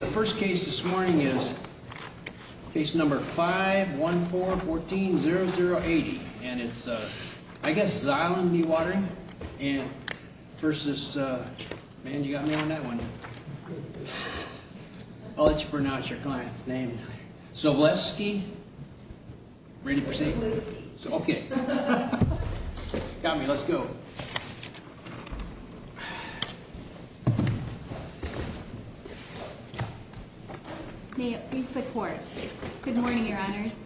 The first case this morning is case number 514140080 and it's, I guess, Zylem Dewatering versus, man you got me on that one, I'll let you pronounce your client's name, Szablewski. Ready for safety? Szablewski. Ok, got me, let's go. May it please the court, good morning, your honors,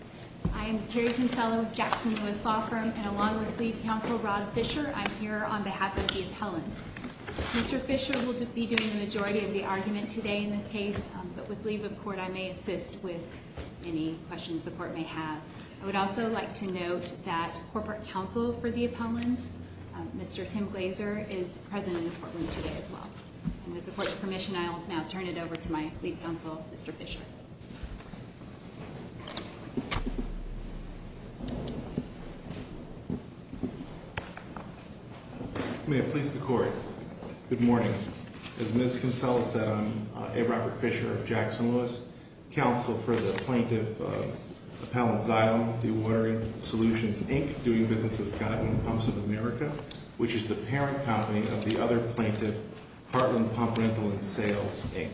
I am Carrie Kinsella with Jackson Lewis Law Firm and along with lead counsel Rob Fischer, I'm here on behalf of the appellants. Mr. Fischer will be doing the majority of the argument today in this case, but with leave of court I may assist with any questions the court may have. I would also like to note that corporate counsel for the appellants, Mr. Tim Glaser, is present in the courtroom today as well. And with the court's permission I will now turn it over to my lead counsel, Mr. Fischer. May it please the court, good morning, as Ms. Kinsella said I'm A. Robert Fischer of Heartland Pumps of America, which is the parent company of the other plaintiff, Heartland Pump Rental and Sales, Inc.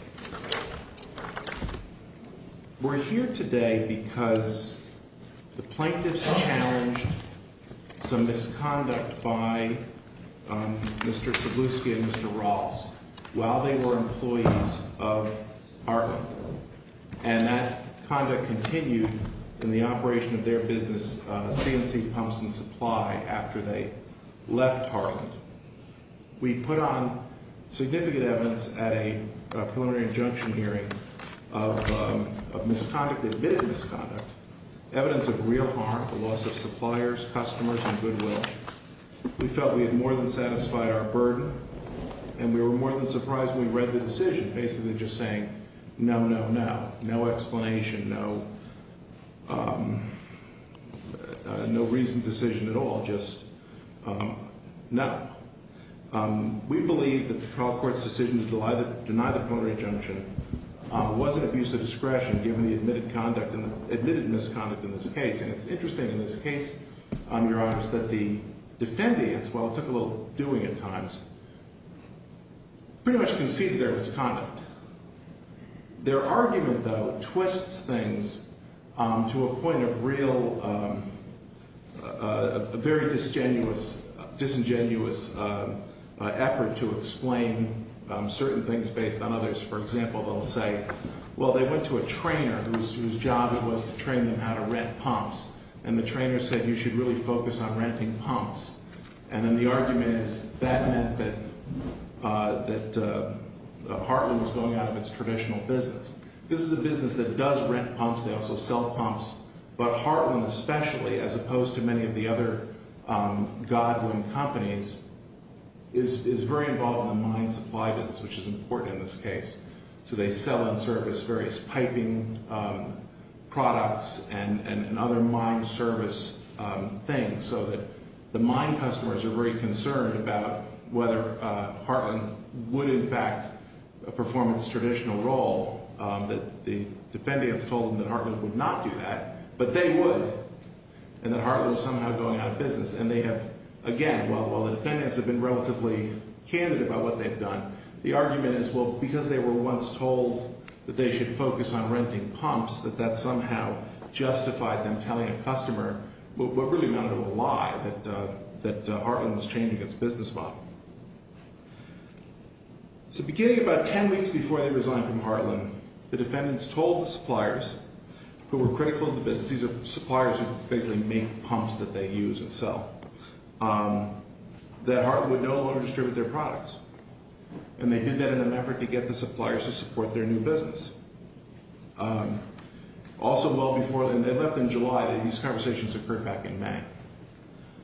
We're here today because the plaintiffs challenged some misconduct by Mr. Szablewski and Mr. of their business, CNC Pumps and Supply, after they left Heartland. We put on significant evidence at a preliminary injunction hearing of misconduct, admitted misconduct, evidence of real harm, the loss of suppliers, customers, and goodwill. We felt we had more than satisfied our burden and we were more than surprised when we read the decision, basically just saying no, no, no, no explanation, no reasoned decision at all, just no. We believe that the trial court's decision to deny the preliminary injunction was an abuse of discretion given the admitted misconduct in this case. And it's interesting in this case, Your Honors, that the defendants, while it took a little doing at times, pretty much conceded there was conduct. Their argument, though, twists things to a point of real, very disingenuous effort to explain certain things based on others. For example, they'll say, well, they went to a trainer whose job it was to train them how to rent pumps, and the trainer said you should really focus on renting pumps. And then the argument is that meant that Heartland was going out of its traditional business. This is a business that does rent pumps. They also sell pumps. But Heartland especially, as opposed to many of the other Godwin companies, is very involved in the mine supply business, which is important in this case. So they sell and service various piping products and other mine service things so that the mine customers are very concerned about whether Heartland would, in fact, perform its traditional role that the defendants told them that Heartland would not do that. But they would, and that Heartland was somehow going out of business. And they have, again, while the defendants have been relatively candid about what they've done, the argument is, well, because they were once told that they should focus on renting that Heartland was changing its business model. So beginning about ten weeks before they resigned from Heartland, the defendants told the suppliers who were critical of the business, these are suppliers who basically make pumps that they use and sell, that Heartland would no longer distribute their products. And they did that in an effort to get the suppliers to support their new business. Also well before, and they left in July, these conversations occurred back in May.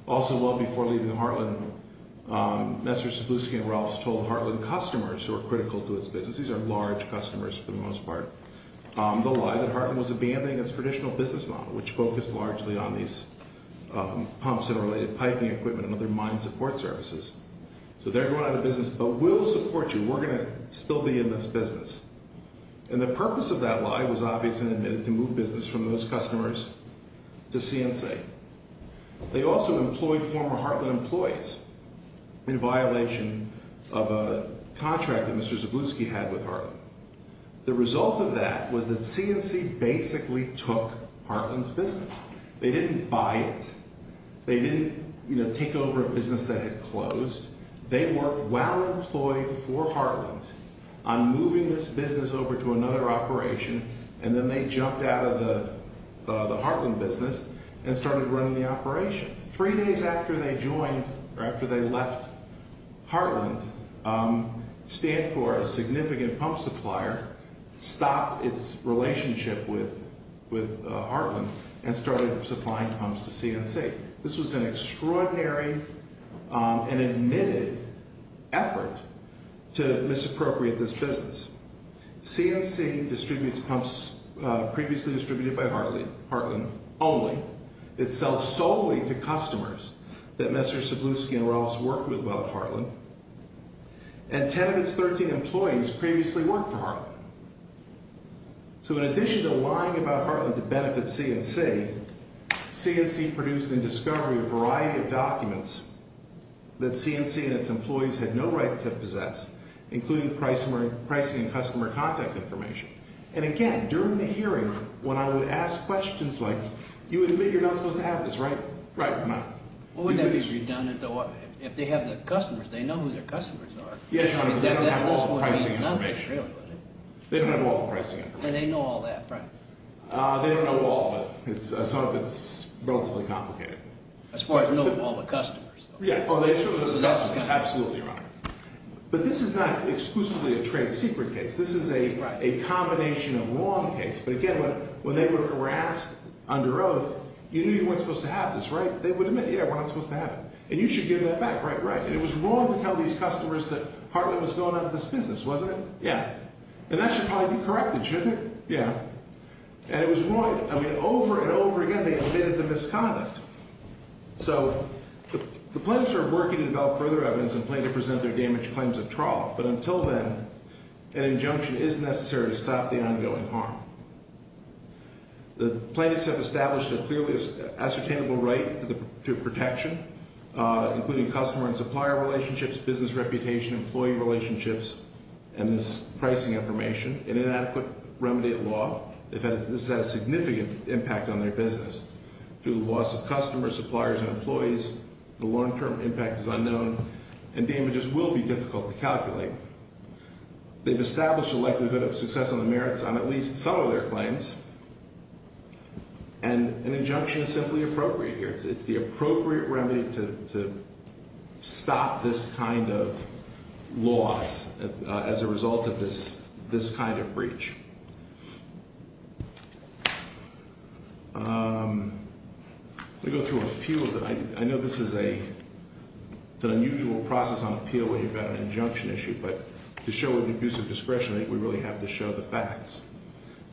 Also well before leaving Heartland, Nestor Cebulski and Ralphs told Heartland customers who were critical to its business, these are large customers for the most part, the lie that Heartland was abandoning its traditional business model, which focused largely on these pumps and related piping equipment and other mine support services. So they're going out of business, but we'll support you. We're going to still be in this business. And the purpose of that lie was obviously to move business from those customers to C&C. They also employed former Heartland employees in violation of a contract that Mr. Cebulski had with Heartland. The result of that was that C&C basically took Heartland's business. They didn't buy it. They didn't, you know, take over a business that had closed. They were well-employed for Heartland on moving this business over to another operation, and then they jumped out of the Heartland business and started running the operation. Three days after they joined, or after they left Heartland, Stanford, a significant pump supplier, stopped its relationship with Heartland and started supplying pumps to C&C. This was an extraordinary and admitted effort to misappropriate this business. C&C distributes pumps previously distributed by Heartland only. It sells solely to customers that Mr. Cebulski and Ralphs worked with while at Heartland. And 10 of its 13 employees previously worked for Heartland. So in addition to lying about Heartland to benefit C&C, C&C produced in discovery a variety of documents that C&C and its employees had no right to possess, including pricing and customer contact information. And again, during the hearing, when I would ask questions like, you would admit you're not supposed to have this, right? Right. No. Well, wouldn't that be redundant, though? If they have their customers, they know who their customers are. Yes, Your Honor, but they don't have all the pricing information. Really, do they? They don't have all the pricing information. And they know all that, right? They don't know all of it. Some of it's relatively complicated. As far as knowing all the customers, though. Oh, they know all the customers. Absolutely, Your Honor. But this is not exclusively a trade secret case. This is a combination of wrong case. But again, when they were asked under oath, you knew you weren't supposed to have this, right? They would admit, yeah, we're not supposed to have it. And you should give that back. Right, right. And it was wrong to tell these customers that Heartland was going out of this business, wasn't it? Yeah. And that should probably be corrected, shouldn't it? Yeah. And it was wrong. I mean, over and over again, they admitted the misconduct. So the plaintiffs are working to develop further evidence and plaintiff present their damage claims at trial. But until then, an injunction is necessary to stop the ongoing harm. The plaintiffs have established a clearly ascertainable right to protection, including customer and supplier relationships, business reputation, employee relationships, and this pricing information. In an adequate remedy of law, this has a significant impact on their business. Through the loss of customers, suppliers, and employees, the long-term impact is unknown and damages will be difficult to calculate. They've established a likelihood of success on the merits on at least some of their claims. And an injunction is simply appropriate here. It's the appropriate remedy to stop this kind of loss as a result of this kind of breach. I'm going to go through a few of them. I know this is an unusual process on appeal when you've got an injunction issue. But to show an abuse of discretion, we really have to show the facts.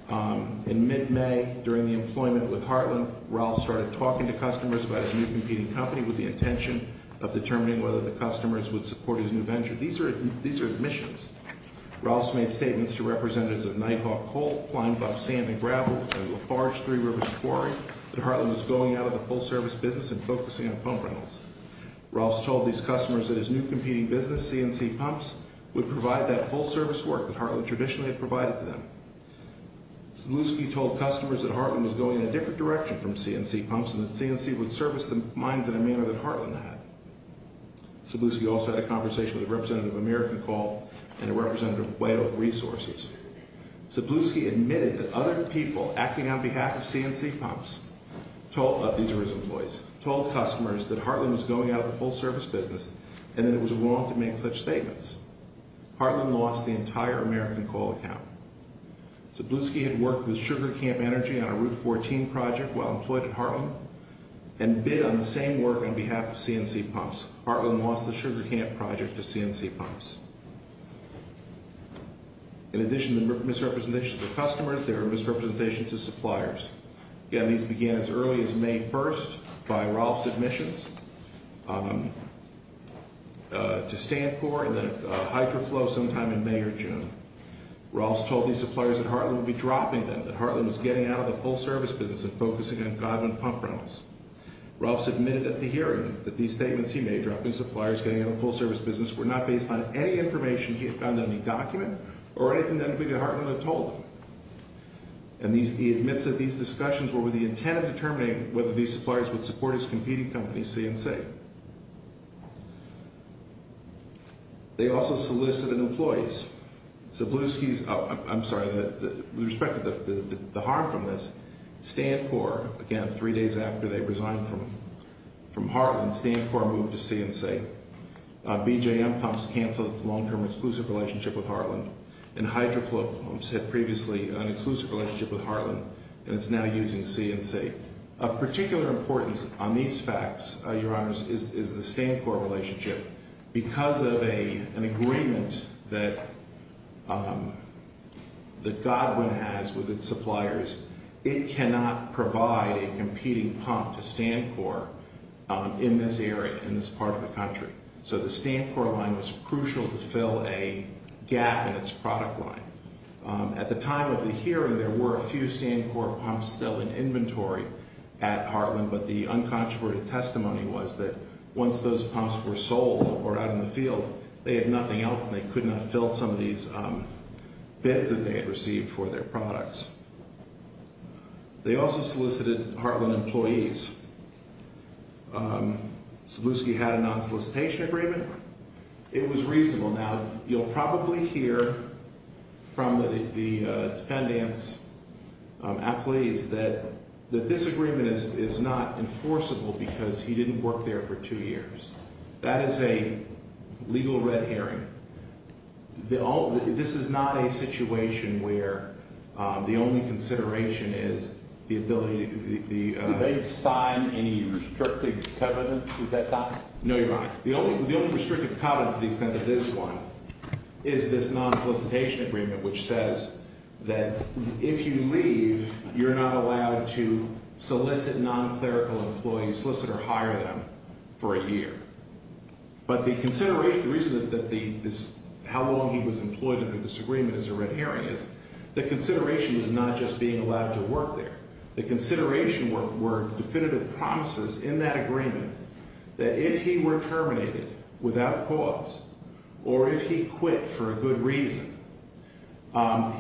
In mid-May, during the employment with Heartland, Ralph started talking to customers about his new competing company with the intention of determining whether the customers would support his new venture. These are admissions. Ralph's made statements to representatives of Nighthawk Coal, Pine Pump Sand and Gravel, and Lafarge Three Rivers Quarry that Heartland was going out of the full-service business and focusing on pump rentals. Ralph's told these customers that his new competing business, C&C Pumps, would provide that full-service work that Sabluski told customers that Heartland was going in a different direction from C&C Pumps and that C&C would service the mines in a manner that Heartland had. Sabluski also had a conversation with a representative of American Coal and a representative of White Oak Resources. Sabluski admitted that other people acting on behalf of C&C Pumps, of these were his employees, told customers that Heartland was going out of the full-service business and that it was wrong to make such statements. Heartland lost the entire American Coal account. Sabluski had worked with Sugar Camp Energy on a Route 14 project while employed at Heartland and bid on the same work on behalf of C&C Pumps. Heartland lost the Sugar Camp project to C&C Pumps. In addition to misrepresentations to customers, there were misrepresentations to suppliers. Again, these began as early as May 1st by Rolf's admissions to Stanpor and then Hydroflow sometime in May or June. Rolf told these suppliers that Heartland would be dropping them, that Heartland was getting out of the full-service business and focusing on Godwin Pump Rentals. Rolf submitted at the hearing that these statements he made, dropping suppliers, getting out of the full-service business, were not based on any information he had found in any document or anything that anybody at Heartland had told him. And he admits that these discussions were with the intent of determining whether these suppliers would support his competing company, C&C. They also solicited employees. Sabluski's, I'm sorry, with respect to the harm from this, Stanpor, again, three days after they resigned from Heartland, Stanpor moved to C&C. BJM Pumps canceled its long-term exclusive relationship with Heartland. And Hydroflow had previously an exclusive relationship with Heartland, and it's now using C&C. Of particular importance on these facts, Your Honors, is the Stanpor relationship. Because of an agreement that Godwin has with its suppliers, it cannot provide a competing pump to Stanpor in this area, in this part of the country. So the Stanpor line was crucial to fill a gap in its product line. At the time of the hearing, there were a few Stanpor pumps still in inventory at Heartland, but the uncontroverted testimony was that once those pumps were sold or out in the field, they had nothing else and they could not fill some of these bids that they had received for their products. They also solicited Heartland employees. Once Zbluski had a non-solicitation agreement, it was reasonable. Now, you'll probably hear from the defendants, athletes, that this agreement is not enforceable because he didn't work there for two years. That is a legal red herring. This is not a situation where the only consideration is the ability to the- Did they sign any restrictive covenants at that time? No, Your Honor. The only restrictive covenant to the extent that this one is this non-solicitation agreement, which says that if you leave, you're not allowed to solicit non-clerical employees, solicit or hire them for a year. But the consideration, the reason that the- how long he was employed under this agreement is a red herring, is the consideration was not just being allowed to work there. The consideration were definitive promises in that agreement that if he were terminated without cause or if he quit for a good reason,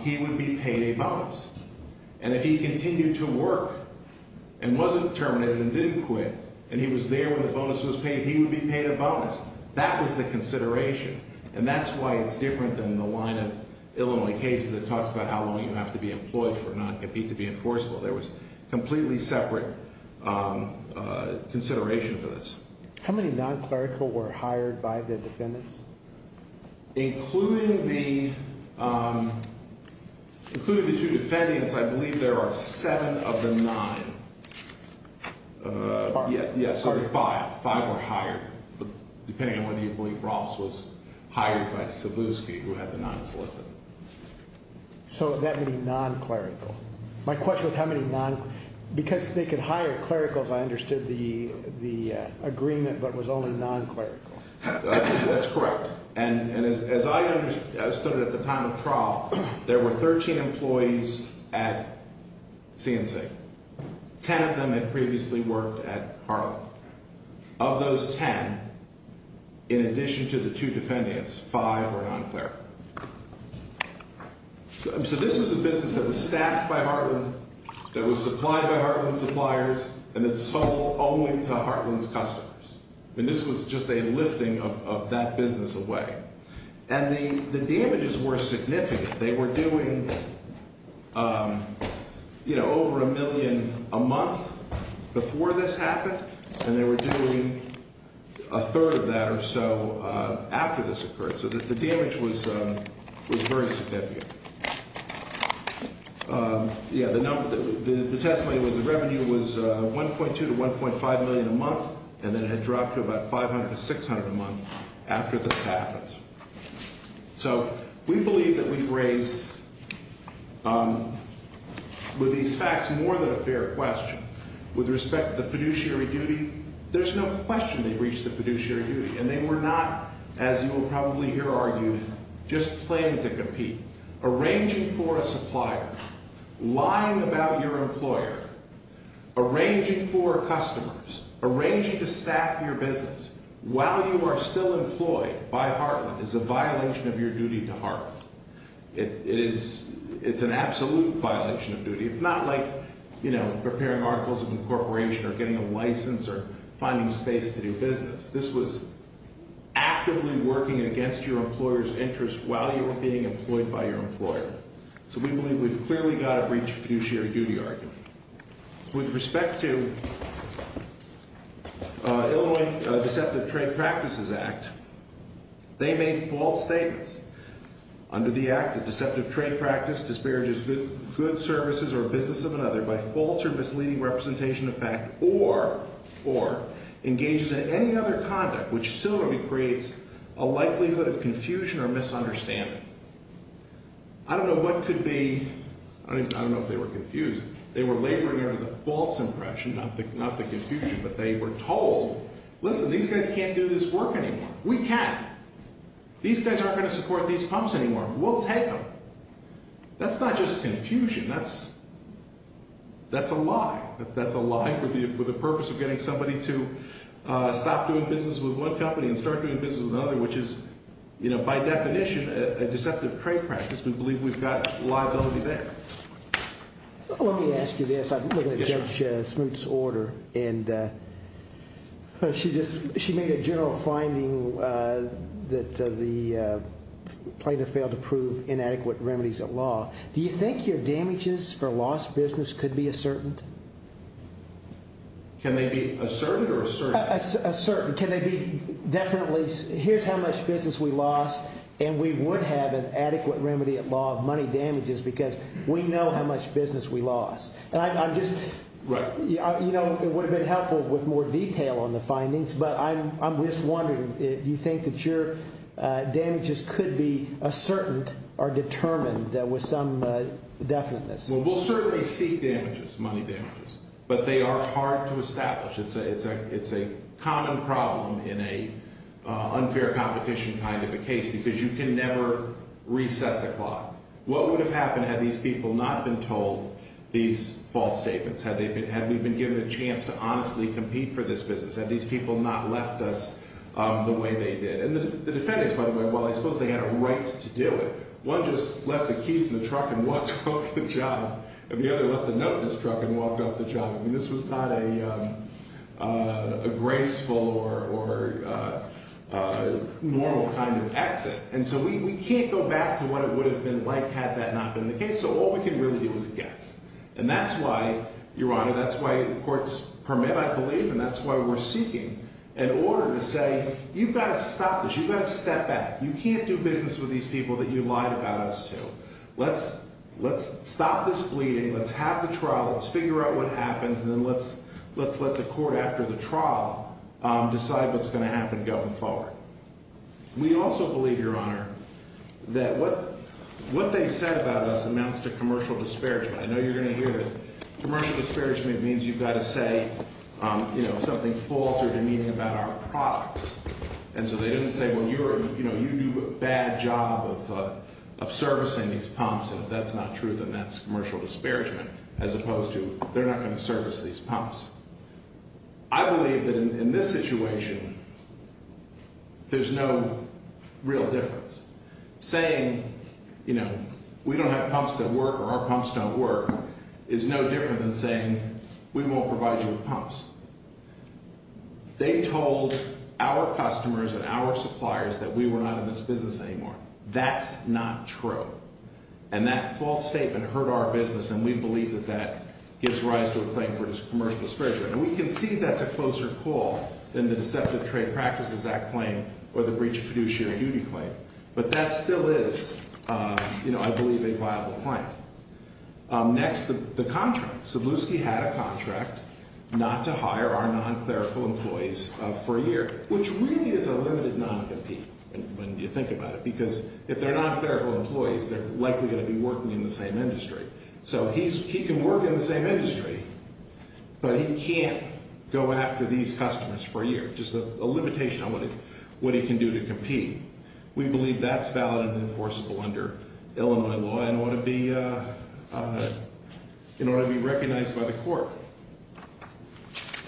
he would be paid a bonus. And if he continued to work and wasn't terminated and didn't quit and he was there when the bonus was paid, he would be paid a bonus. That was the consideration. And that's why it's different than the line of Illinois cases that talks about how long you have to be employed for non-compete to be enforceable. There was completely separate consideration for this. How many non-clerical were hired by the defendants? Including the two defendants, I believe there are seven of the nine. Yeah, sorry, five. Five were hired, depending on whether you believe Rolfs was hired by Cebulski, who had the non-solicit. So that many non-clerical. My question was how many non-clerical. Because they could hire clericals, I understood the agreement, but it was only non-clerical. That's correct. And as I understood it at the time of trial, there were 13 employees at C&C. Ten of them had previously worked at Harlan. Of those ten, in addition to the two defendants, five were non-clerical. So this is a business that was staffed by Harlan, that was supplied by Harlan suppliers, and that sold only to Harlan's customers. And this was just a lifting of that business away. And the damages were significant. They were doing, you know, over a million a month before this happened, and they were doing a third of that or so after this occurred. So the damage was very significant. Yeah, the testimony was the revenue was $1.2 to $1.5 million a month, and then it had dropped to about $500 to $600 a month after this happened. So we believe that we've raised with these facts more than a fair question. With respect to the fiduciary duty, there's no question they've reached the fiduciary duty, and they were not, as you will probably hear argued, just playing to compete. Arranging for a supplier, lying about your employer, arranging for customers, arranging to staff your business while you are still employed by Harlan is a violation of your duty to Harlan. It's an absolute violation of duty. It's not like, you know, preparing articles of incorporation or getting a license or finding space to do business. This was actively working against your employer's interest while you were being employed by your employer. So we believe we've clearly got a breach of fiduciary duty argument. With respect to Illinois Deceptive Trade Practices Act, they made false statements. Under the act, a deceptive trade practice disparages good services or business of another by false or misleading representation of fact or engages in any other conduct which similarly creates a likelihood of confusion or misunderstanding. I don't know what could be – I don't know if they were confused. They were laboring under the false impression, not the confusion, but they were told, listen, these guys can't do this work anymore. We can. These guys aren't going to support these pumps anymore. We'll take them. That's not just confusion. That's a lie. That's a lie for the purpose of getting somebody to stop doing business with one company and start doing business with another, which is, by definition, a deceptive trade practice. We believe we've got liability there. Let me ask you this. I'm looking at Judge Smoot's order, and she just – she made a general finding that the plaintiff failed to prove inadequate remedies at law. Do you think your damages for lost business could be ascertained? Can they be ascertained or ascertained? Ascertained. Can they be definitely – here's how much business we lost, and we would have an adequate remedy at law of money damages because we know how much business we lost. And I'm just – you know, it would have been helpful with more detail on the findings. But I'm just wondering, do you think that your damages could be ascertained or determined with some definiteness? Well, we'll certainly seek damages, money damages, but they are hard to establish. It's a common problem in an unfair competition kind of a case because you can never reset the clock. What would have happened had these people not been told these false statements? Had we been given a chance to honestly compete for this business? Had these people not left us the way they did? And the defendants, by the way, well, I suppose they had a right to do it. One just left the keys in the truck and walked off the job, and the other left a note in his truck and walked off the job. I mean this was not a graceful or normal kind of exit. And so we can't go back to what it would have been like had that not been the case. So all we can really do is guess. And that's why, Your Honor, that's why the courts permit, I believe, and that's why we're seeking an order to say you've got to stop this. You've got to step back. You can't do business with these people that you lied about us to. Let's stop this bleeding. Let's have the trial. Let's figure out what happens, and then let's let the court after the trial decide what's going to happen going forward. We also believe, Your Honor, that what they said about us amounts to commercial disparagement. I know you're going to hear that commercial disparagement means you've got to say something false or demeaning about our products. And so they didn't say, well, you do a bad job of servicing these pumps, and if that's not true, then that's commercial disparagement, as opposed to they're not going to service these pumps. I believe that in this situation there's no real difference. Saying, you know, we don't have pumps that work or our pumps don't work is no different than saying we won't provide you with pumps. They told our customers and our suppliers that we were not in this business anymore. That's not true. And that false statement hurt our business, and we believe that that gives rise to a claim for commercial disparagement. And we can see that's a closer call than the Deceptive Trade Practices Act claim or the Breach of Fiduciary Duty claim. But that still is, you know, I believe, a viable claim. Next, the contract. So Bluski had a contract not to hire our non-clerical employees for a year, which really is a limited non-compete when you think about it, because if they're non-clerical employees, they're likely going to be working in the same industry. So he can work in the same industry, but he can't go after these customers for a year. Just a limitation on what he can do to compete. We believe that's valid and enforceable under Illinois law and ought to be recognized by the court.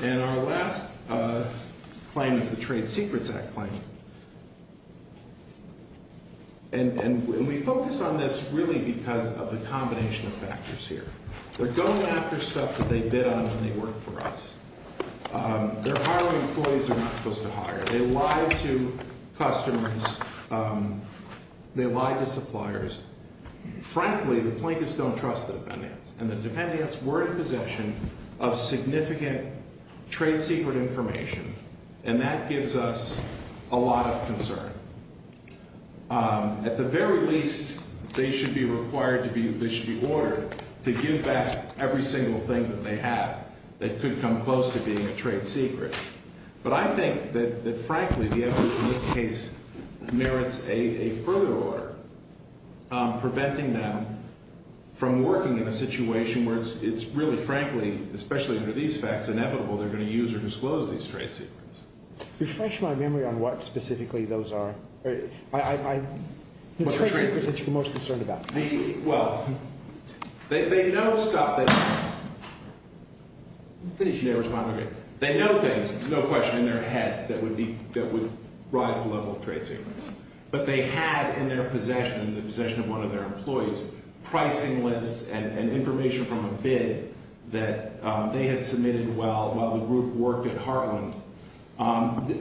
And our last claim is the Trade Secrets Act claim. And we focus on this really because of the combination of factors here. They're going after stuff that they bid on when they work for us. They're hiring employees they're not supposed to hire. They lie to customers. They lie to suppliers. Frankly, the plaintiffs don't trust the defendants, and the defendants were in possession of significant trade secret information, and that gives us a lot of concern. At the very least, they should be required to be ordered to give back every single thing that they have that could come close to being a trade secret. But I think that, frankly, the evidence in this case merits a further order preventing them from working in a situation where it's really, frankly, especially under these facts, inevitable they're going to use or disclose these trade secrets. Refresh my memory on what specifically those are. What are trade secrets that you're most concerned about? Well, they know stuff. They know things, no question, in their heads that would rise the level of trade secrets. But they had in their possession, in the possession of one of their employees, pricing lists and information from a bid that they had submitted while the group worked at Heartland.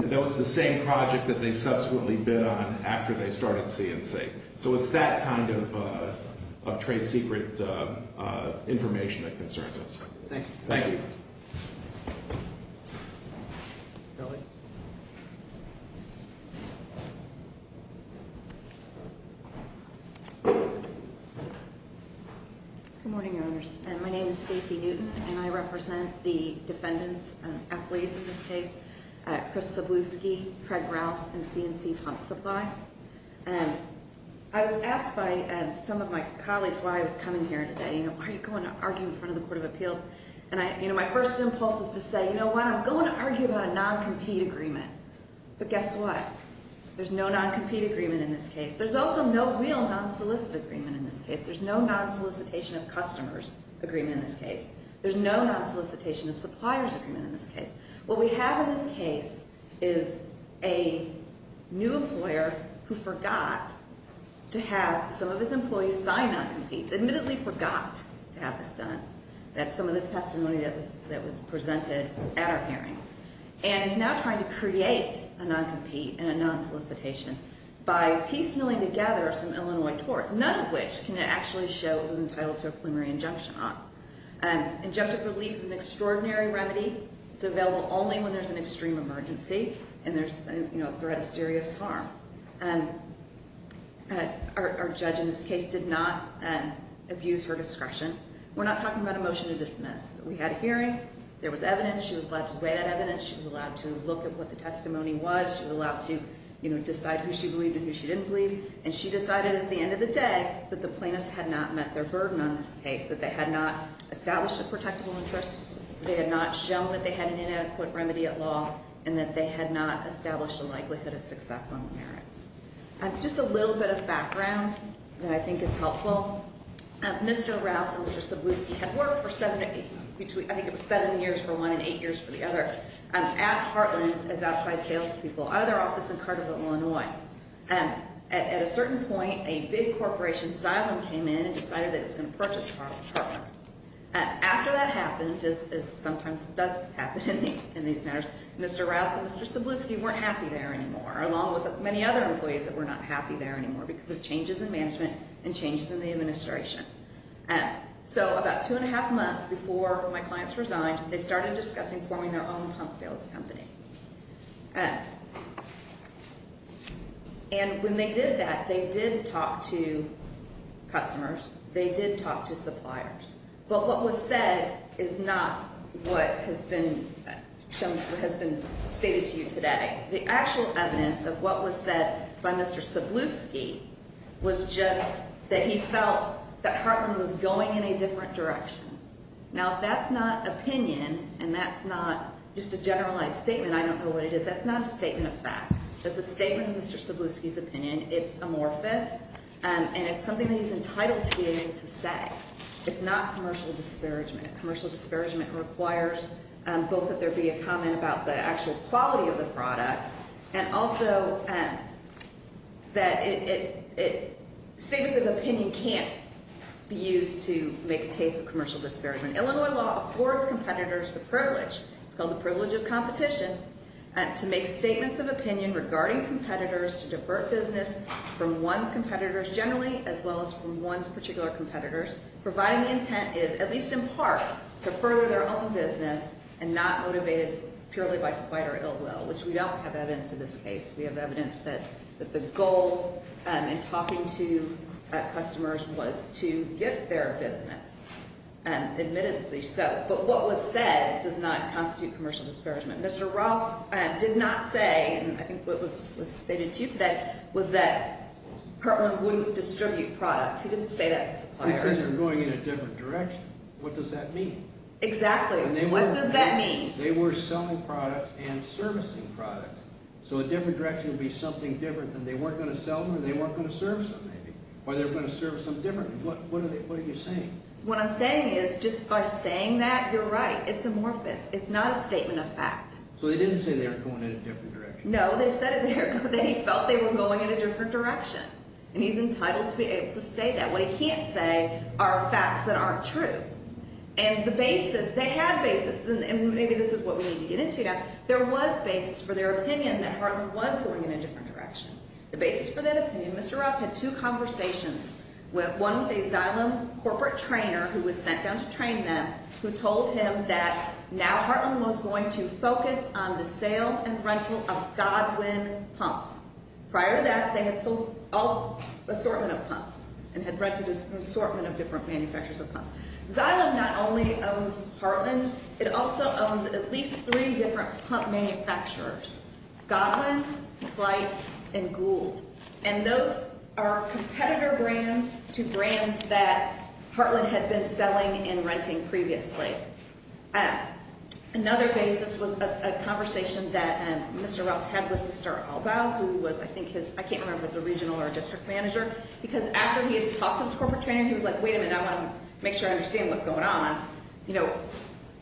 That was the same project that they subsequently bid on after they started C&C. So it's that kind of trade secret information that concerns us. Thank you. Thank you. Ellie. Good morning, Your Honors. My name is Stacey Newton, and I represent the defendants, athletes in this case, Chris Sabluski, Craig Rouse, and C&C Pump Supply. I was asked by some of my colleagues why I was coming here today. Why are you going to argue in front of the Court of Appeals? My first impulse is to say, you know what, I'm going to argue about a non-compete agreement. But guess what? There's no non-compete agreement in this case. There's also no real non-solicit agreement in this case. There's no non-solicitation of customers agreement in this case. There's no non-solicitation of suppliers agreement in this case. What we have in this case is a new employer who forgot to have some of its employees sign non-competes, admittedly forgot to have this done. That's some of the testimony that was presented at our hearing. And is now trying to create a non-compete and a non-solicitation by piecemealing together some Illinois torts, none of which can actually show it was entitled to a preliminary injunction on. Injunctive relief is an extraordinary remedy. It's available only when there's an extreme emergency and there's a threat of serious harm. Our judge in this case did not abuse her discretion. We're not talking about a motion to dismiss. We had a hearing. There was evidence. She was allowed to weigh that evidence. She was allowed to look at what the testimony was. She was allowed to decide who she believed and who she didn't believe. And she decided at the end of the day that the plaintiffs had not met their burden on this case, that they had not established a protectable interest. They had not shown that they had an inadequate remedy at law and that they had not established a likelihood of success on the merits. Just a little bit of background that I think is helpful. Mr. Rouse and Mr. Cebulski had worked for seven, I think it was seven years for one and eight years for the other, at Heartland as outside salespeople out of their office in Carterville, Illinois. At a certain point, a big corporation, Zylum, came in and decided that it was going to purchase Heartland. After that happened, as sometimes does happen in these matters, Mr. Rouse and Mr. Cebulski weren't happy there anymore, along with many other employees that were not happy there anymore because of changes in management and changes in the administration. So about two and a half months before my clients resigned, they started discussing forming their own pump sales company. And when they did that, they did talk to customers. They did talk to suppliers. But what was said is not what has been stated to you today. The actual evidence of what was said by Mr. Cebulski was just that he felt that Heartland was going in a different direction. Now, if that's not opinion and that's not just a generalized statement, I don't know what it is, that's not a statement of fact. That's a statement of Mr. Cebulski's opinion. It's amorphous, and it's something that he's entitled to be able to say. It's not commercial disparagement. Commercial disparagement requires both that there be a comment about the actual quality of the product and also that statements of opinion can't be used to make a case of commercial disparagement. Illinois law affords competitors the privilege, it's called the privilege of competition, to make statements of opinion regarding competitors to divert business from one's competitors generally as well as from one's particular competitors, providing the intent is at least in part to further their own business and not motivate it purely by spite or ill will, which we don't have evidence in this case. We have evidence that the goal in talking to customers was to get their business, admittedly so. But what was said does not constitute commercial disparagement. Mr. Ross did not say, and I think what was stated to you today, was that Kirtland wouldn't distribute products. He didn't say that to suppliers. He says they're going in a different direction. What does that mean? Exactly. What does that mean? They were selling products and servicing products, so a different direction would be something different than they weren't going to sell them or they weren't going to service them maybe, or they were going to service them differently. What are you saying? What I'm saying is just by saying that, you're right. It's amorphous. It's not a statement of fact. So he didn't say they were going in a different direction. No, they said that he felt they were going in a different direction, and he's entitled to be able to say that. What he can't say are facts that aren't true. And the basis, they had basis, and maybe this is what we need to get into now. There was basis for their opinion that Harlan was going in a different direction. The basis for that opinion, Mr. Ross had two conversations, one with a Xylem corporate trainer who was sent down to train them, who told him that now Harlan was going to focus on the sale and rental of Godwin pumps. Prior to that, they had sold an assortment of pumps and had rented an assortment of different manufacturers of pumps. Xylem not only owns Harlan, it also owns at least three different pump manufacturers, Godwin, Flight, and Gould. And those are competitor brands to brands that Harlan had been selling and renting previously. Another basis was a conversation that Mr. Ross had with Mr. Albaugh, who was, I think his, I can't remember if it was a regional or a district manager, because after he had talked to this corporate trainer, he was like, wait a minute, I want to make sure I understand what's going on. You know,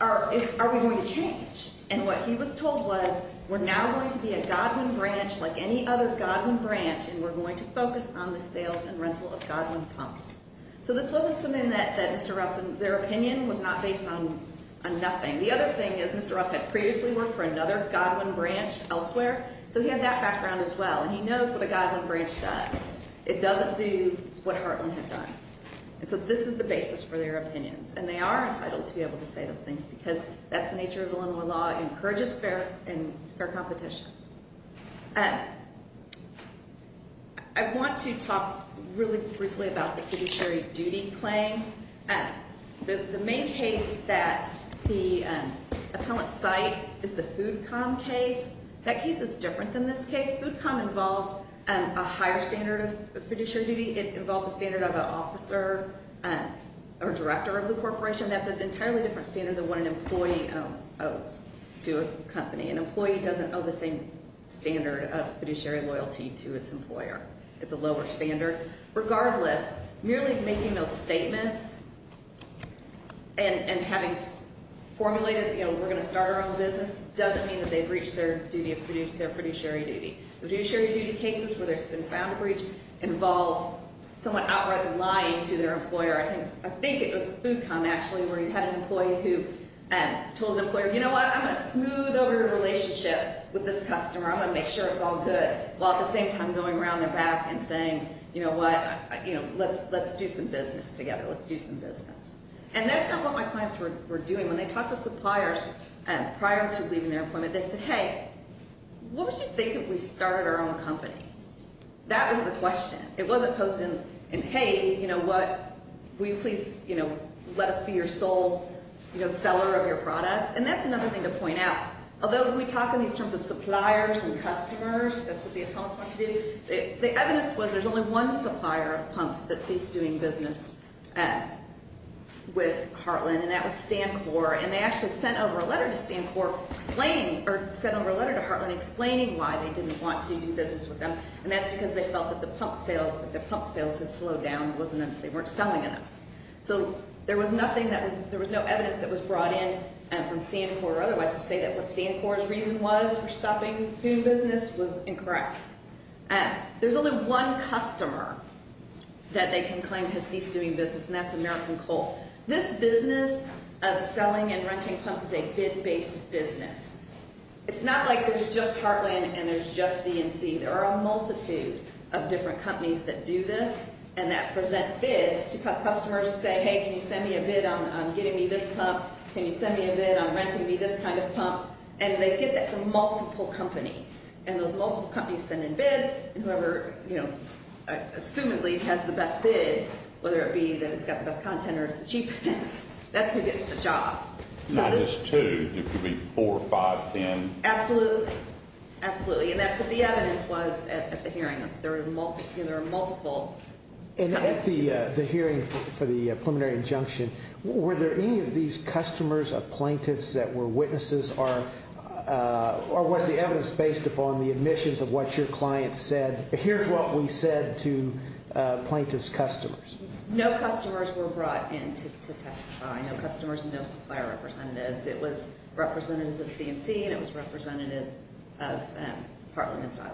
are we going to change? And what he was told was, we're now going to be a Godwin branch, like any other Godwin branch, and we're going to focus on the sales and rental of Godwin pumps. So this wasn't something that Mr. Ross, their opinion was not based on nothing. The other thing is Mr. Ross had previously worked for another Godwin branch elsewhere, so he had that background as well. And he knows what a Godwin branch does. It doesn't do what Harlan had done. And so this is the basis for their opinions. And they are entitled to be able to say those things, because that's the nature of Illinois law. It encourages fair competition. I want to talk really briefly about the fiduciary duty claim. The main case that the appellants cite is the FoodCom case. That case is different than this case. FoodCom involved a higher standard of fiduciary duty. It involved a standard of an officer or director of the corporation. That's an entirely different standard than what an employee owes to a company. An employee doesn't owe the same standard of fiduciary loyalty to its employer. It's a lower standard. Regardless, merely making those statements and having formulated, you know, we're going to start our own business doesn't mean that they've reached their fiduciary duty. The fiduciary duty cases where there's been found a breach involve someone outright lying to their employer. I think it was FoodCom, actually, where you had an employee who told his employer, you know what, I'm going to smooth over your relationship with this customer. I'm going to make sure it's all good, while at the same time going around their back and saying, you know what, let's do some business together, let's do some business. And that's not what my clients were doing. When they talked to suppliers prior to leaving their employment, they said, hey, what would you think if we started our own company? That was the question. It wasn't posed in, hey, you know what, will you please, you know, let us be your sole, you know, seller of your products. And that's another thing to point out. Although we talk in these terms of suppliers and customers, that's what the accountants want you to do, the evidence was there's only one supplier of pumps that sees doing business with Heartland, and that was Stancor. And they actually sent over a letter to Stancor explaining or sent over a letter to Heartland explaining why they didn't want to do business with them. And that's because they felt that the pump sales had slowed down, they weren't selling enough. So there was no evidence that was brought in from Stancor or otherwise to say that what Stancor's reason was for stopping doing business was incorrect. There's only one customer that they can claim has ceased doing business, and that's American Coal. This business of selling and renting pumps is a bid-based business. It's not like there's just Heartland and there's just CNC. There are a multitude of different companies that do this and that present bids to customers to say, hey, can you send me a bid on getting me this pump? Can you send me a bid on renting me this kind of pump? And they get that from multiple companies, and those multiple companies send in bids, and whoever, you know, assumedly has the best bid, whether it be that it's got the best content or it's the cheapest, that's who gets the job. Not just two, it could be four, five, ten. Absolutely, absolutely, and that's what the evidence was at the hearing. There are multiple. And at the hearing for the preliminary injunction, were there any of these customers or plaintiffs that were witnesses or was the evidence based upon the admissions of what your client said? Here's what we said to plaintiff's customers. No customers were brought in to testify. No customers and no supplier representatives. It was representatives of CNC and it was representatives of Parliament's item.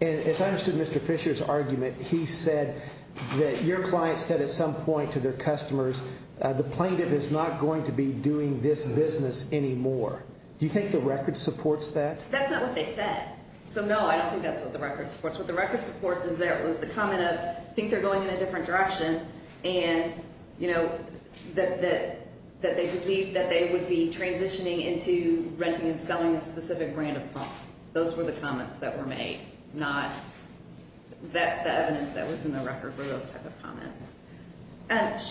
And as I understood Mr. Fisher's argument, he said that your client said at some point to their customers, the plaintiff is not going to be doing this business anymore. Do you think the record supports that? That's not what they said. So, no, I don't think that's what the record supports. What the record supports is there was the comment of I think they're going in a different direction and, you know, that they believe that they would be transitioning into renting and selling a specific brand of pump. Those were the comments that were made, not that's the evidence that was in the record were those type of comments.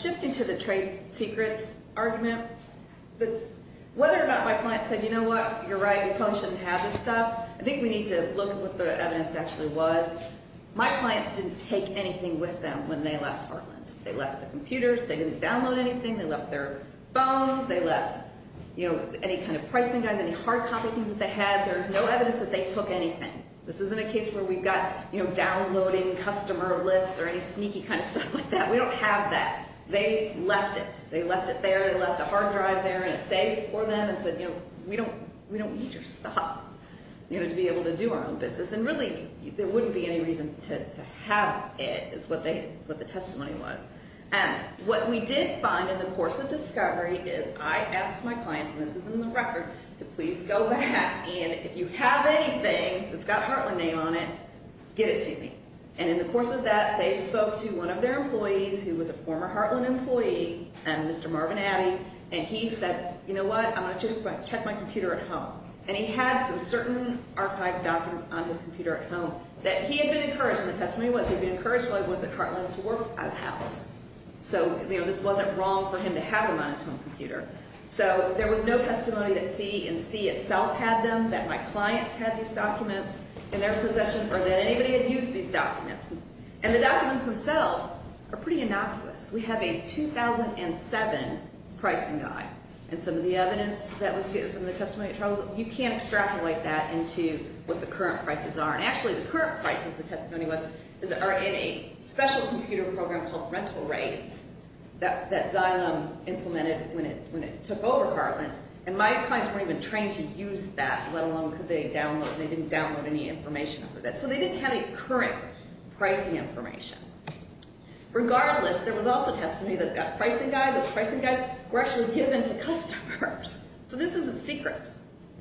Shifting to the trade secrets argument, whether or not my client said, you know what, you're right, your pump shouldn't have this stuff. I think we need to look at what the evidence actually was. My clients didn't take anything with them when they left Hartland. They left the computers. They didn't download anything. They left their phones. They left, you know, any kind of pricing guide, any hard copy things that they had. There's no evidence that they took anything. This isn't a case where we've got, you know, downloading customer lists or any sneaky kind of stuff like that. We don't have that. They left it. They left it there. They left a hard drive there and a safe for them and said, you know, we don't need your stuff, you know, to be able to do our own business. And really there wouldn't be any reason to have it is what the testimony was. And what we did find in the course of discovery is I asked my clients, and this is in the record, to please go back. And if you have anything that's got Hartland name on it, get it to me. And in the course of that they spoke to one of their employees who was a former Hartland employee, Mr. Marvin Abbey, and he said, you know what, I'm going to check my computer at home. And he had some certain archived documents on his computer at home that he had been encouraged, and the testimony was he had been encouraged while he was at Hartland to work out of the house. So, you know, this wasn't wrong for him to have them on his home computer. So there was no testimony that C&C itself had them, that my clients had these documents in their possession, or that anybody had used these documents. And the documents themselves are pretty innocuous. We have a 2007 pricing guide, and some of the evidence that was given, some of the testimony, you can't extrapolate that into what the current prices are. And actually the current prices, the testimony was, are in a special computer program called rental rates that Xylem implemented when it took over Hartland. And my clients weren't even trained to use that, let alone could they download, they didn't download any information over that. So they didn't have any current pricing information. Regardless, there was also testimony that a pricing guide, those pricing guides were actually given to customers. So this is a secret.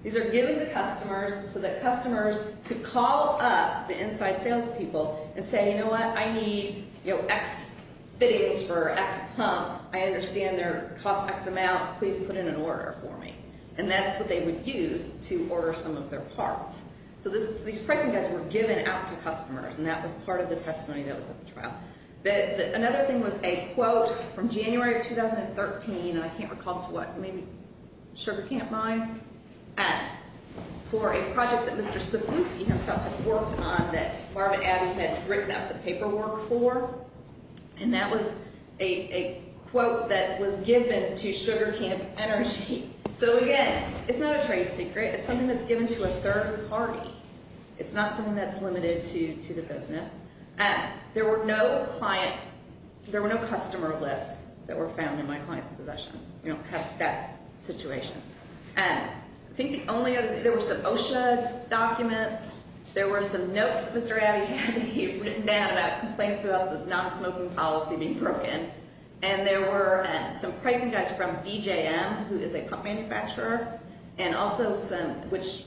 These are given to customers so that customers could call up the inside salespeople and say, you know what, I need, you know, X videos for X pump. I understand they're cost X amount. Please put in an order for me. And that's what they would use to order some of their parts. So these pricing guides were given out to customers, and that was part of the testimony that was at the trial. Another thing was a quote from January of 2013, and I can't recall to what, maybe Sugar Can't Buy, for a project that Mr. Sapusky himself had worked on that Marvin Abbey had written up the paperwork for. And that was a quote that was given to Sugar Can't Energy. So, again, it's not a trade secret. It's something that's given to a third party. It's not something that's limited to the business. And there were no client, there were no customer lists that were found in my client's possession. We don't have that situation. And I think the only other, there were some OSHA documents. There were some notes that Mr. Abbey had written down about complaints about the non-smoking policy being broken. And there were some pricing guides from BGM, who is a pump manufacturer, and also some, which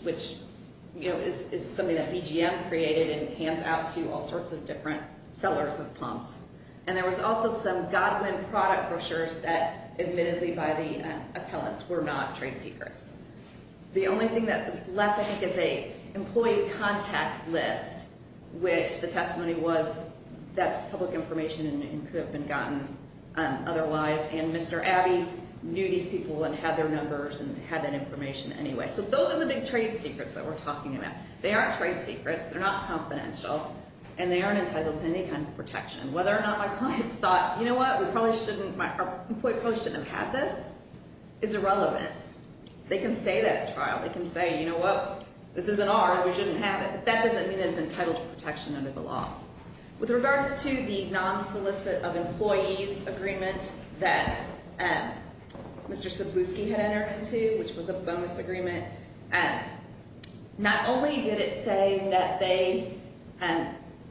is something that BGM created and hands out to all sorts of different sellers of pumps. And there was also some Godwin product brochures that admittedly by the appellants were not trade secret. The only thing that was left, I think, is a employee contact list, which the testimony was that's public information and could have been gotten otherwise. And Mr. Abbey knew these people and had their numbers and had that information anyway. So those are the big trade secrets that we're talking about. They aren't trade secrets. They're not confidential. And they aren't entitled to any kind of protection. Whether or not my clients thought, you know what, we probably shouldn't have had this is irrelevant. They can say that at trial. They can say, you know what, this isn't ours. We shouldn't have it. But that doesn't mean that it's entitled to protection under the law. With regards to the non-solicit of employees agreement that Mr. Sabluski had entered into, which was a bonus agreement, not only did it say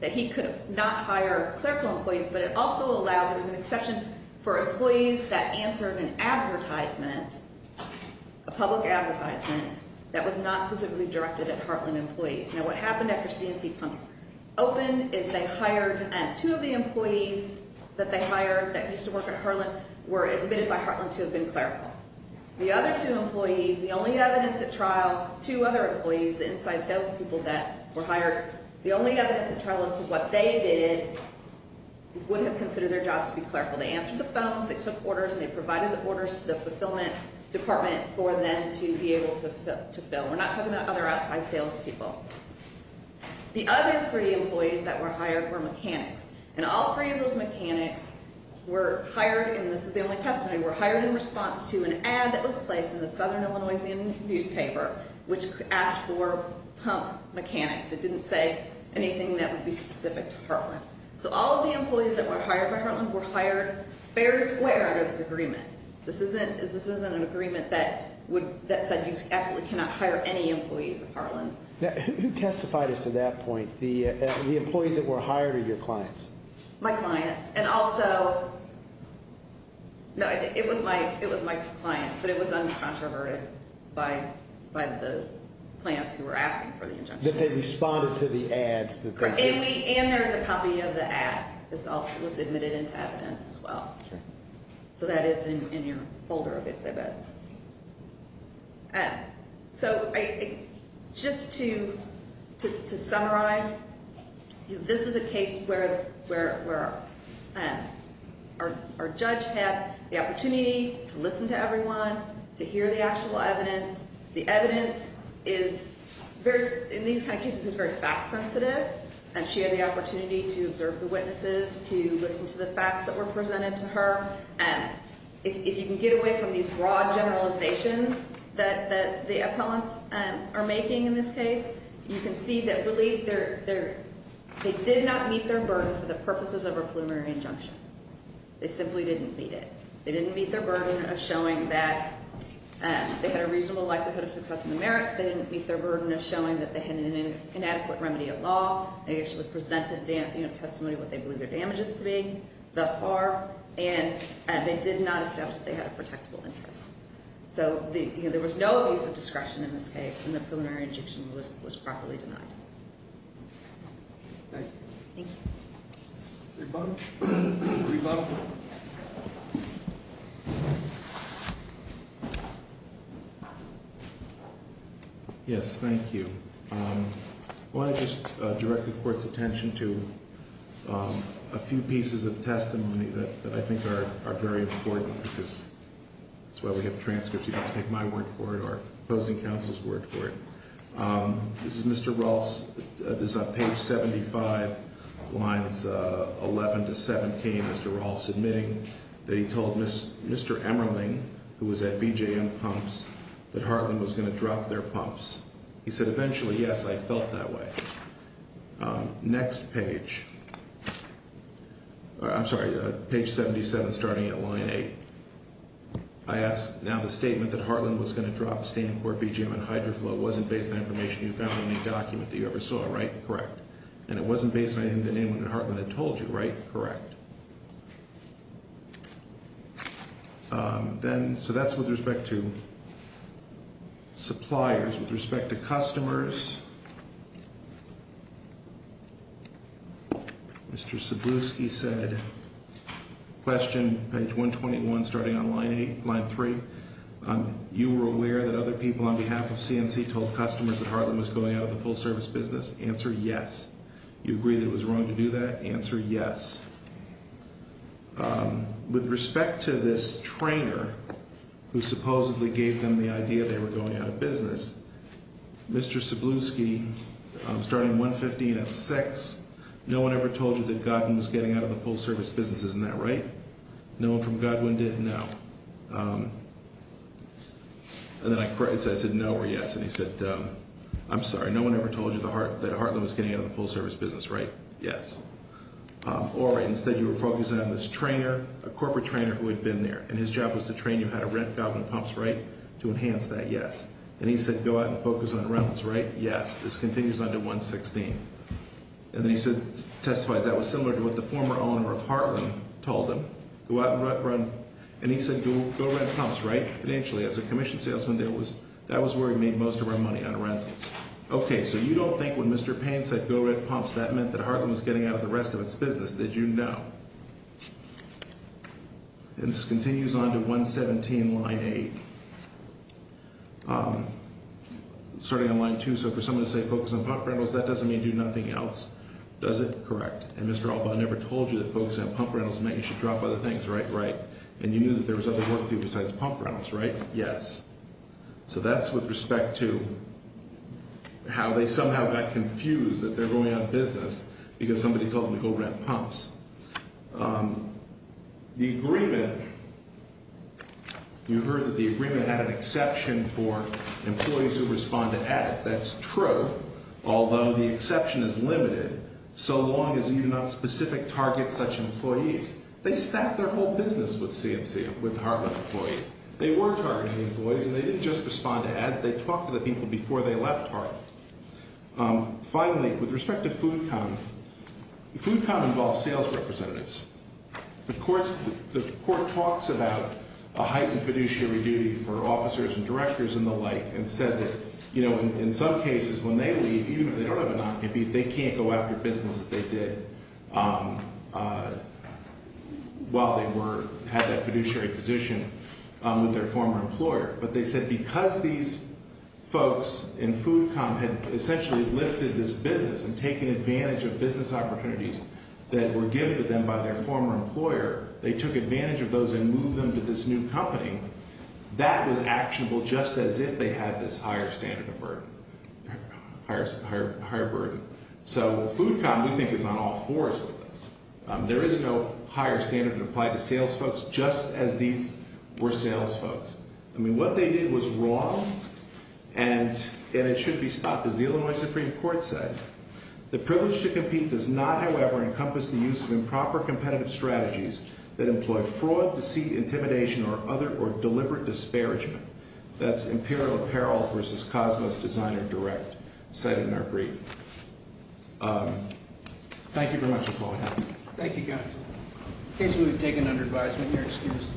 that he could not hire clerical employees, but it also allowed, there was an exception for employees that answered an advertisement, a public advertisement that was not specifically directed at Heartland employees. Now, what happened after C&C Pumps opened is they hired two of the employees that they hired that used to work at Heartland were admitted by Heartland to have been clerical. The other two employees, the only evidence at trial, two other employees, the inside salespeople that were hired, the only evidence at trial as to what they did would have considered their jobs to be clerical. They answered the phones. They took orders. And they provided the orders to the fulfillment department for them to be able to fill. We're not talking about other outside salespeople. The other three employees that were hired were mechanics. And all three of those mechanics were hired, and this is the only testimony, were hired in response to an ad that was placed in the Southern Illinois newspaper which asked for pump mechanics. It didn't say anything that would be specific to Heartland. So all of the employees that were hired by Heartland were hired fair and square under this agreement. This isn't an agreement that said you absolutely cannot hire any employees at Heartland. Who testified as to that point, the employees that were hired or your clients? My clients. And also, no, it was my clients, but it was uncontroverted by the clients who were asking for the injunction. That they responded to the ads that they gave. And there's a copy of the ad that was admitted into evidence as well. Sure. So that is in your folder of exhibits. So just to summarize, this is a case where our judge had the opportunity to listen to everyone, to hear the actual evidence. The evidence is very, in these kind of cases, is very fact sensitive. And she had the opportunity to observe the witnesses, to listen to the facts that were presented to her. If you can get away from these broad generalizations that the appellants are making in this case, you can see that really they did not meet their burden for the purposes of a preliminary injunction. They simply didn't meet it. They didn't meet their burden of showing that they had a reasonable likelihood of success in the merits. They didn't meet their burden of showing that they had an inadequate remedy at law. They actually presented testimony of what they believe their damages to be thus far. And they did not establish that they had a protectable interest. So there was no abuse of discretion in this case, and the preliminary injunction was properly denied. Thank you. Thank you. Rebuttal. Rebuttal. Yes, thank you. I want to just direct the court's attention to a few pieces of testimony that I think are very important, because that's why we have transcripts. You don't have to take my word for it or opposing counsel's word for it. This is Mr. Rolfe's. This is on page 75, lines 11 to 17, Mr. Rolfe submitting that he told Mr. Emmerling, who was at BJM Pumps, that Hartland was going to drop their pumps. He said, eventually, yes, I felt that way. Next page. I'm sorry, page 77, starting at line 8. I ask, now, the statement that Hartland was going to drop Stancord, BJM, and Hydroflow wasn't based on information you found in any document that you ever saw, right? Correct. And it wasn't based on anything that anyone at Hartland had told you, right? Correct. Then, so that's with respect to suppliers. With respect to customers, Mr. Sabluski said, question, page 121, starting on line 8, line 3, you were aware that other people on behalf of CNC told customers that Hartland was going out of the full service business? Answer, yes. You agree that it was wrong to do that? Answer, yes. With respect to this trainer who supposedly gave them the idea they were going out of business, Mr. Sabluski, starting 115 at 6, no one ever told you that Godwin was getting out of the full service business. Isn't that right? No one from Godwin did? No. And then I said, no or yes. And he said, I'm sorry, no one ever told you that Hartland was getting out of the full service business, right? Yes. All right, instead you were focusing on this trainer, a corporate trainer who had been there, and his job was to train you how to rent Godwin Pumps, right, to enhance that, yes. And he said, go out and focus on rentals, right? Yes. This continues on to 116. And then he said, testifies, that was similar to what the former owner of Hartland told him. Go out and run, and he said, go rent pumps, right? And actually, as a commission salesman, that was where he made most of our money, on rentals. Okay, so you don't think when Mr. Payne said go rent pumps, that meant that Hartland was getting out of the rest of its business, did you? No. And this continues on to 117, line 8. Starting on line 2, so for someone to say focus on pump rentals, that doesn't mean do nothing else, does it? Correct. And Mr. Albaugh never told you that focusing on pump rentals meant you should drop other things, right? Right. And you knew that there was other work to do besides pump rentals, right? Yes. So that's with respect to how they somehow got confused that they're going out of business because somebody told them to go rent pumps. The agreement, you heard that the agreement had an exception for employees who respond to ads. That's true, although the exception is limited so long as you do not specific target such employees. They stack their whole business with CNC, with Hartland employees. They were targeting employees and they didn't just respond to ads, they talked to the people before they left Hartland. Finally, with respect to food comp, food comp involves sales representatives. The court talks about a heightened fiduciary duty for officers and directors and the like and said that, you know, in some cases when they leave, even if they don't have a non-compete, they can't go after business that they did while they were, had that fiduciary position with their former employer. But they said because these folks in food comp had essentially lifted this business and taken advantage of business opportunities that were given to them by their former employer, they took advantage of those and moved them to this new company, that was actionable just as if they had this higher standard of burden, higher burden. So food comp, we think, is on all fours with this. There is no higher standard applied to sales folks just as these were sales folks. I mean, what they did was wrong and it should be stopped, as the Illinois Supreme Court said. The privilege to compete does not, however, encompass the use of improper competitive strategies that employ fraud, deceit, intimidation, or other or deliberate disparagement. That's Imperial Apparel versus Cosmos Designer Direct, cited in our brief. Thank you very much, McCoy. Thank you, guys. In case we've taken under advisement, you're excused.